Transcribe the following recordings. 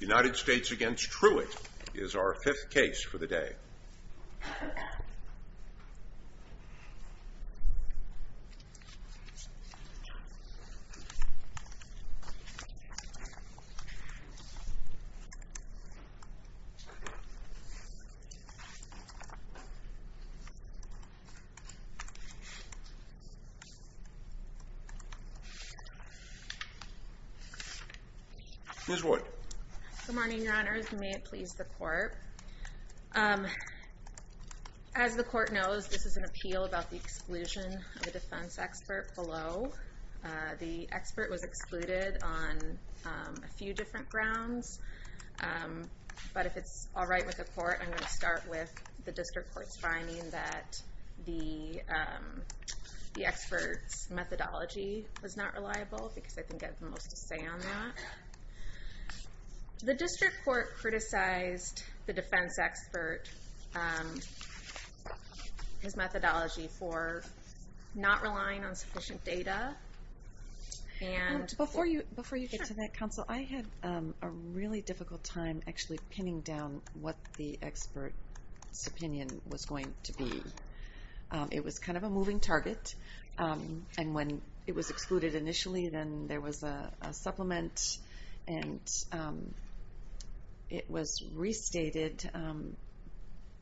United States v. Truitt is our fifth case for the day. Good morning, Your Honors, and may it please the Court. As the Court knows, this is an appeal about the exclusion of a defense expert below. The expert was excluded on a few different grounds, but if it's all right with the Court, I'm going to start with the District Court's finding that the expert's methodology was not reliable, because I think I have the most to say on that. The District Court criticized the defense expert, his methodology for not relying on sufficient data, and... Before you get to that, Counsel, I had a really difficult time actually pinning down what the expert's opinion was going to be. It was kind of a moving target, and when it was excluded initially, then there was a supplement, and it was restated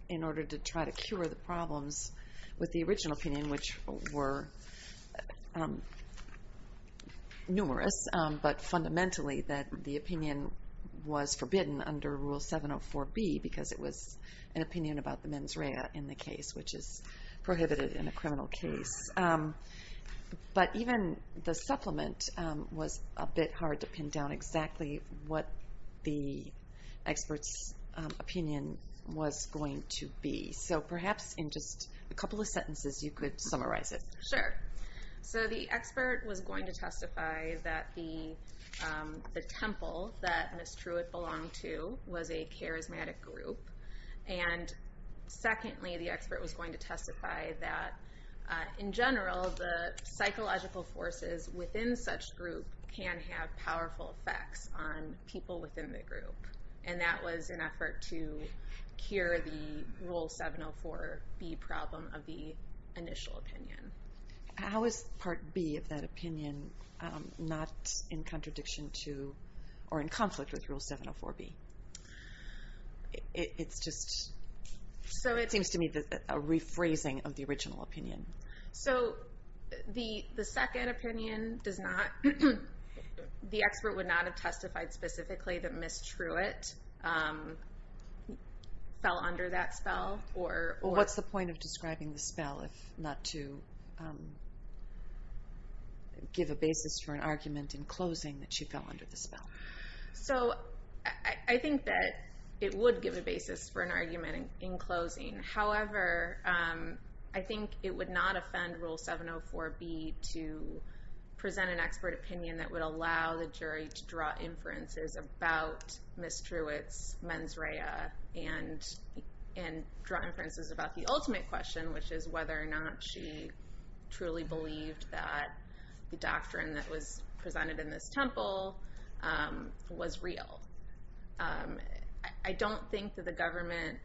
in order to try to cure the problems with the original opinion, which were numerous, but fundamentally that the opinion was forbidden under Rule 704B, because it was an opinion about the mens rea in the case, which is prohibited in a criminal case. But even the supplement was a bit hard to pin down exactly what the expert's opinion was going to be. So perhaps in just a couple of sentences you could summarize it. Sure. So the expert was going to testify that the temple that Ms. Truitt belonged to was a charismatic group, and secondly, the expert was going to testify that in general, the psychological forces within such group can have powerful effects on people within the group, and that was an effort to cure the Rule 704B problem of the initial opinion. How is Part B of that opinion not in contradiction to, or in conflict with Rule 704B? It's just, it seems to me, a rephrasing of the original opinion. So the second opinion does not, the expert would not have testified specifically that Ms. Truitt fell under that spell? What's the point of describing the spell if not to give a basis for an argument in closing that she fell under the spell? So I think that it would give a basis for an argument in closing. However, I think it would not offend Rule 704B to present an expert opinion that would allow the jury to draw inferences about Ms. Truitt's mens rea and draw inferences about the ultimate question, which is whether or not she truly believed that the doctrine that was presented in this temple was real. I don't think that the government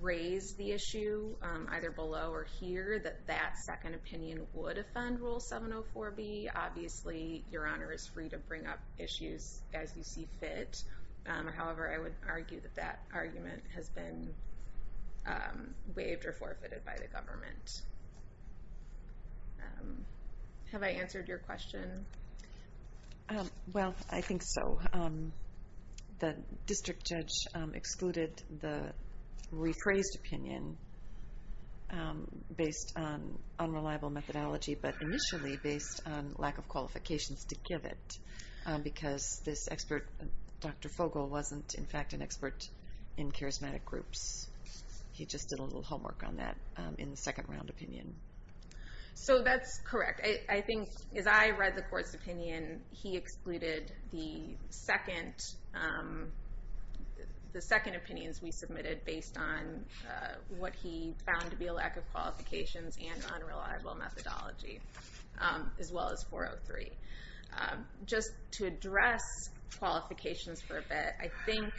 raised the issue, either below or here, that that second opinion would offend Rule 704B. Obviously, Your Honor is free to bring up issues as you see fit. However, I would argue that that argument has been waived or forfeited by the government. Have I answered your question? Well, I think so. The district judge excluded the rephrased opinion based on unreliable methodology, but initially based on lack of qualifications to give it, because this expert, Dr. Fogel, wasn't in fact an expert in charismatic groups. He just did a little homework on that in the second round opinion. So that's correct. I think as I read the court's opinion, he excluded the second opinions we submitted based on what he found to be a lack of qualifications and unreliable methodology, as well as 403. Just to address qualifications for a bit, I think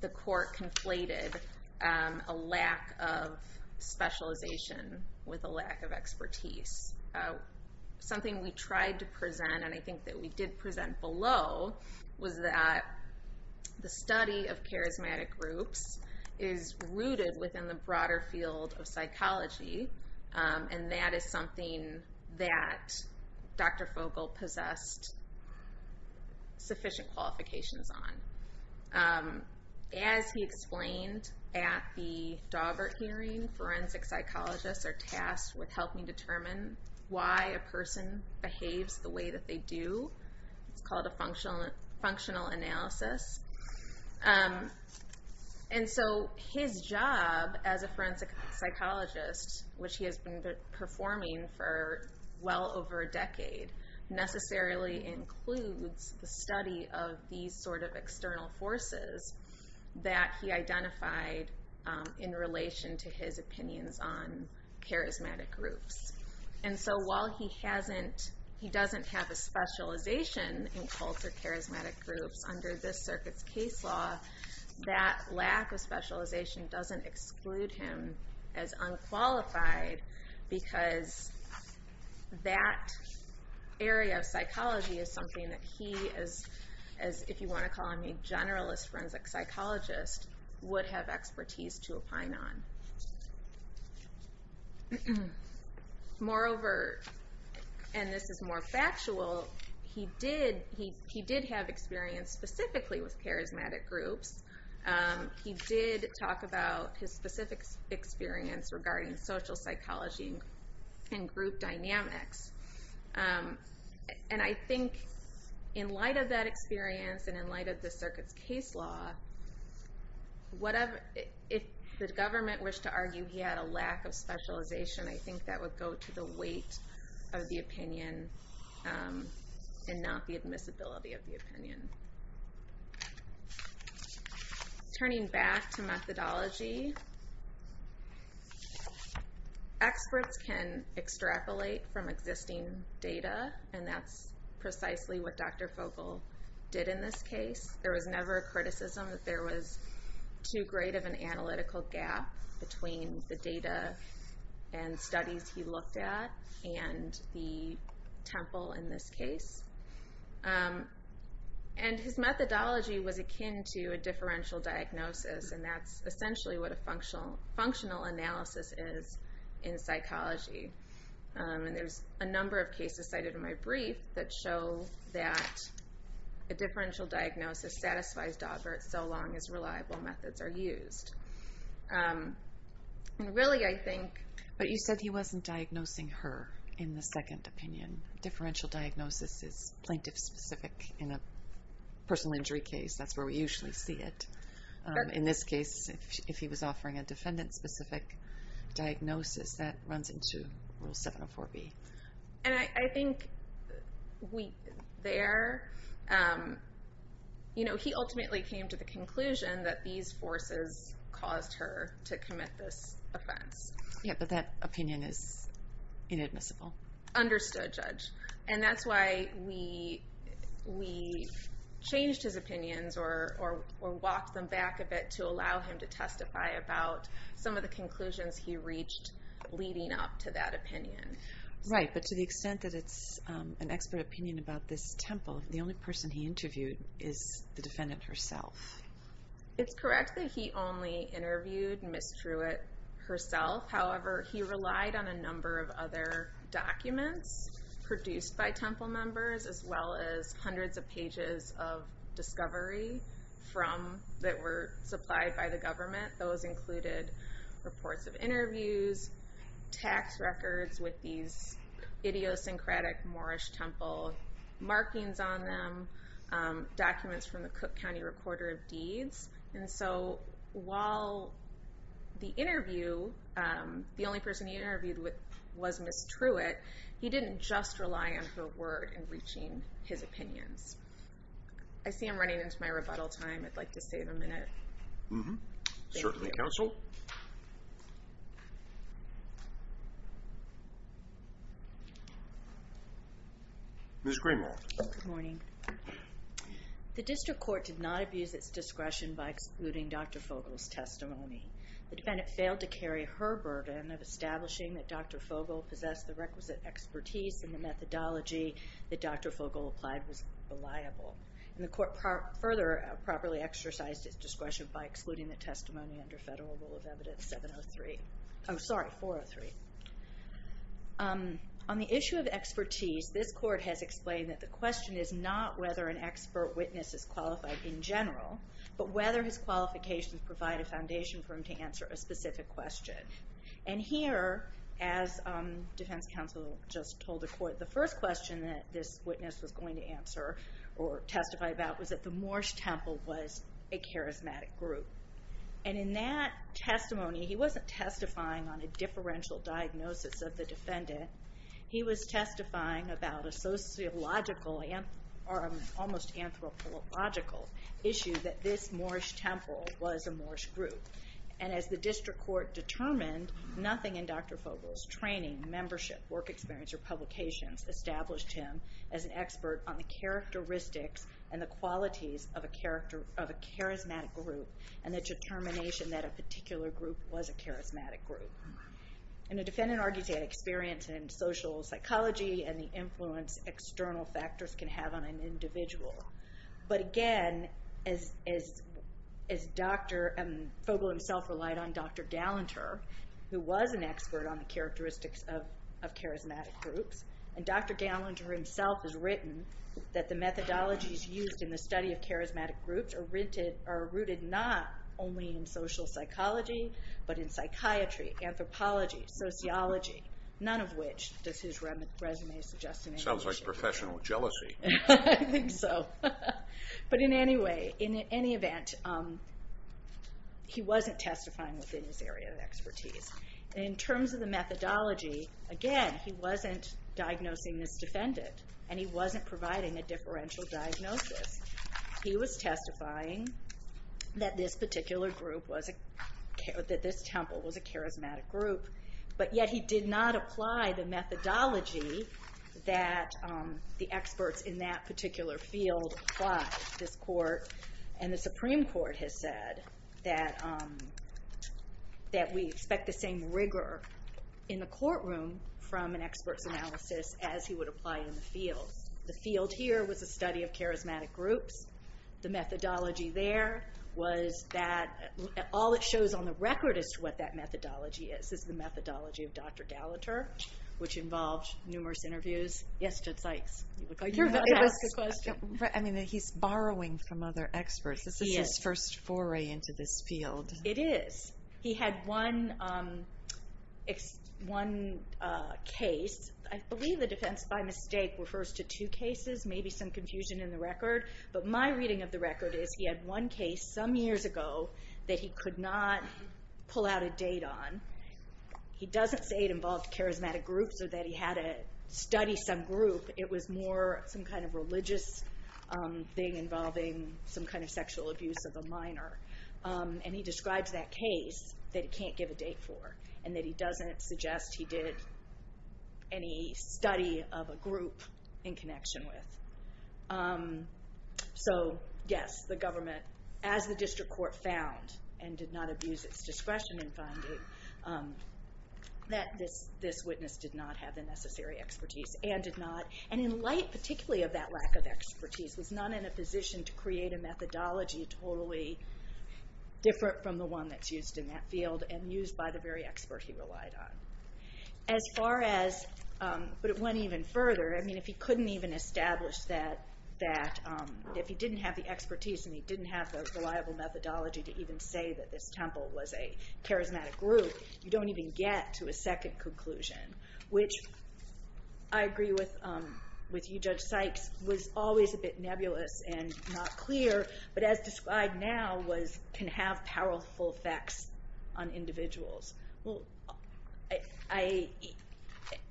the court conflated a lack of specialization with a lack of expertise. Something we tried to present, and I think that we did present below, was that the study of charismatic groups is rooted within the broader field of psychology. And that is something that Dr. Fogel possessed sufficient qualifications on. As he explained at the Daubert hearing, forensic psychologists are tasked with helping determine why a person behaves the way that they do. It's called a functional analysis. And so his job as a forensic psychologist, which he has been performing for well over a decade, necessarily includes the study of these sort of external forces that he identified in relation to his opinions on charismatic groups. And so while he doesn't have a specialization in cults or charismatic groups under this circuit's case law, that lack of specialization doesn't exclude him as unqualified because that area of psychology is something that he is, if you want to call him a generalist forensic psychologist, would have expertise to opine on. Moreover, and this is more factual, he did have experience specifically with charismatic groups. He did talk about his specific experience regarding social psychology and group dynamics. And I think in light of that experience and in light of this circuit's case law, if the government wished to argue he had a lack of specialization, I think that would go to the weight of the opinion and not the admissibility of the opinion. Turning back to methodology, experts can extrapolate from existing data, and that's precisely what Dr. Fogel did in this case. There was never a criticism that there was too great of an analytical gap between the data and studies he looked at and the temple in this case. And his methodology was akin to a differential diagnosis, and that's essentially what a functional analysis is in psychology. And there's a number of cases cited in my brief that show that a differential diagnosis satisfies Dobbert so long as reliable methods are used. But you said he wasn't diagnosing her in the second opinion. Differential diagnosis is plaintiff-specific in a personal injury case. That's where we usually see it. In this case, if he was offering a defendant-specific diagnosis, that runs into Rule 704B. He ultimately came to the conclusion that these forces caused her to commit this offense. Yeah, but that opinion is inadmissible. Understood, Judge. And that's why we changed his opinions or walked them back a bit to allow him to testify about some of the conclusions he reached leading up to that opinion. Right, but to the extent that it's an expert opinion about this temple, the only person he interviewed is the defendant herself. It's correct that he only interviewed Ms. Truitt herself. However, he relied on a number of other documents produced by temple members as well as hundreds of pages of discovery that were supplied by the government. Those included reports of interviews, tax records with these idiosyncratic Moorish temple markings on them, documents from the Cook County Recorder of Deeds. And so while the interview, the only person he interviewed was Ms. Truitt, he didn't just rely on her word in reaching his opinions. I see I'm running into my rebuttal time. I'd like to save a minute. Certainly, counsel. Ms. Greenwald. Good morning. The district court did not abuse its discretion by excluding Dr. Fogel's testimony. The defendant failed to carry her burden of establishing that Dr. Fogel possessed the requisite expertise and the methodology that Dr. Fogel applied was reliable. And the court further properly exercised its discretion by excluding the testimony under Federal Rule of Evidence 703. Oh, sorry, 403. On the issue of expertise, this court has explained that the question is not whether an expert witness is qualified in general, but whether his qualifications provide a foundation for him to answer a specific question. And here, as defense counsel just told the court, the first question that this witness was going to answer or testify about was that the Moorish temple was a charismatic group. And in that testimony, he wasn't testifying on a differential diagnosis of the defendant. He was testifying about a sociological or almost anthropological issue that this Moorish temple was a Moorish group. And as the district court determined, nothing in Dr. Fogel's training, membership, work experience, or publications established him as an expert on the characteristics and the qualities of a charismatic group and the determination that a particular group was a charismatic group. And the defendant argues he had experience in social psychology and the influence external factors can have on an individual. But again, as Dr. Fogel himself relied on Dr. Gallanter, who was an expert on the characteristics of charismatic groups, and Dr. Gallanter himself has written that the methodologies used in the study of charismatic groups are rooted not only in social psychology, but in psychiatry, anthropology, sociology, none of which does his resume suggest in any way. Sounds like professional jealousy. I think so. But in any event, he wasn't testifying within his area of expertise. In terms of the methodology, again, he wasn't diagnosing this defendant, and he wasn't providing a differential diagnosis. He was testifying that this particular group was a charismatic group, but yet he did not apply the methodology that the experts in that particular field applied. This court and the Supreme Court has said that we expect the same rigor in the courtroom from an expert's analysis as he would apply in the field. The field here was a study of charismatic groups. The methodology there was that all it shows on the record as to what that methodology is is the methodology of Dr. Gallanter, which involved numerous interviews. Yes, Judge Sykes, you look like you want to ask a question. He's borrowing from other experts. This is his first foray into this field. It is. He had one case. I believe the defense by mistake refers to two cases, maybe some confusion in the record. But my reading of the record is he had one case some years ago that he could not pull out a date on. He doesn't say it involved charismatic groups or that he had to study some group. It was more some kind of religious thing involving some kind of sexual abuse of a minor. He describes that case that he can't give a date for and that he doesn't suggest he did any study of a group in connection with. Yes, the government, as the district court found and did not abuse its discretion in finding, that this witness did not have the necessary expertise and did not, was not in a position to create a methodology totally different from the one that's used in that field and used by the very expert he relied on. As far as, but it went even further, if he couldn't even establish that, if he didn't have the expertise and he didn't have the reliable methodology to even say that this temple was a charismatic group, you don't even get to a second conclusion, which I agree with you, Judge Sykes, was always a bit nebulous and not clear, but as described now, can have powerful effects on individuals.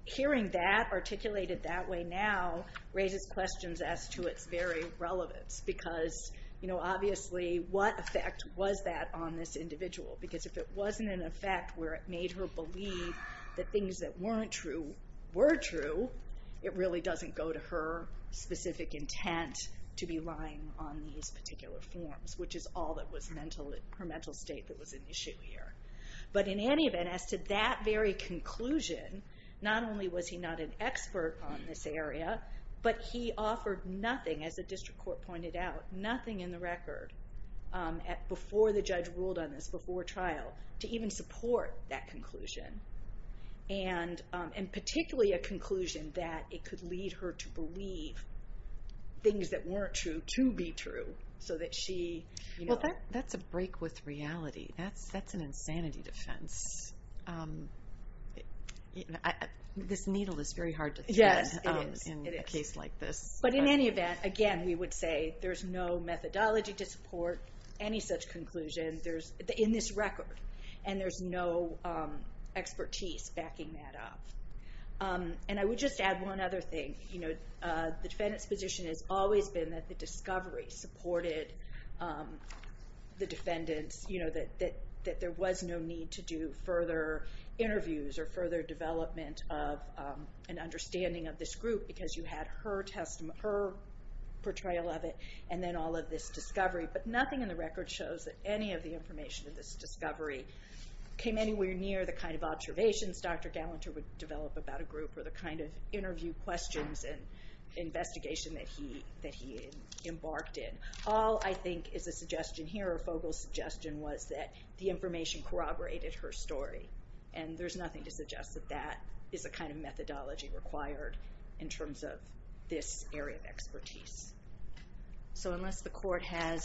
Hearing that articulated that way now raises questions as to its very relevance because obviously what effect was that on this individual? Because if it wasn't an effect where it made her believe that things that weren't true were true, it really doesn't go to her specific intent to be lying on these particular forms, which is all that was her mental state that was an issue here. But in any event, as to that very conclusion, not only was he not an expert on this area, but he offered nothing, as the district court pointed out, nothing in the record, before the judge ruled on this, before trial, to even support that conclusion, and particularly a conclusion that it could lead her to believe things that weren't true to be true, so that she... Well, that's a break with reality. That's an insanity defense. This needle is very hard to thread in a case like this. But in any event, again, we would say there's no methodology to support any such conclusion in this record, and there's no expertise backing that up. And I would just add one other thing. The defendant's position has always been that the discovery supported the defendant's, that there was no need to do further interviews or further development of an understanding of this group because you had her portrayal of it, and then all of this discovery. But nothing in the record shows that any of the information of this discovery came anywhere near the kind of observations Dr. Gallanter would develop about a group or the kind of interview questions and investigation that he embarked in. All, I think, is a suggestion here, or Fogle's suggestion, was that the information corroborated her story. And there's nothing to suggest that that is the kind of methodology required in terms of this area of expertise. So unless the court has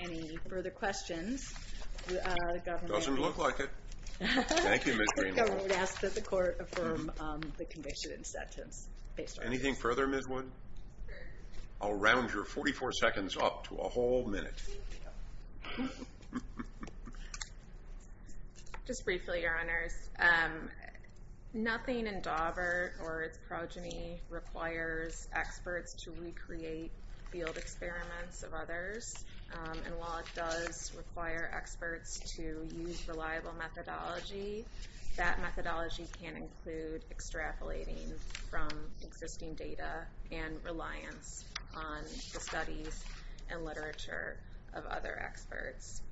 any further questions... It doesn't look like it. Thank you, Ms. Greenwood. I would ask that the court affirm the conviction and sentence based on this. Anything further, Ms. Wood? I'll round your 44 seconds up to a whole minute. Just briefly, Your Honors. Nothing in Daubert or its progeny requires experts to recreate field experiments of others. And while it does require experts to use reliable methodology, that methodology can include extrapolating from existing data and reliance on the studies and literature of other experts.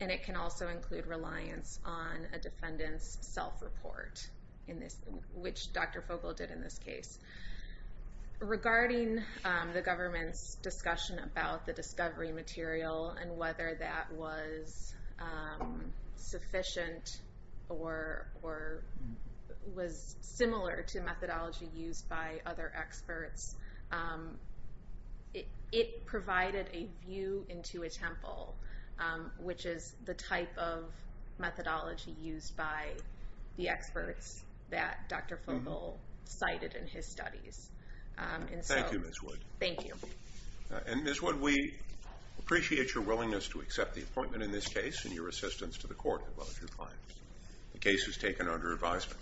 And it can also include reliance on a defendant's self-report, which Dr. Fogle did in this case. Regarding the government's discussion about the discovery material and whether that was sufficient or was similar to methodology used by other experts, it provided a view into a temple, which is the type of methodology used by the experts that Dr. Fogle cited in his studies. Thank you, Ms. Wood. Thank you. And Ms. Wood, we appreciate your willingness to accept the appointment in this case and your assistance to the court in both your clients. The case is taken under advisement.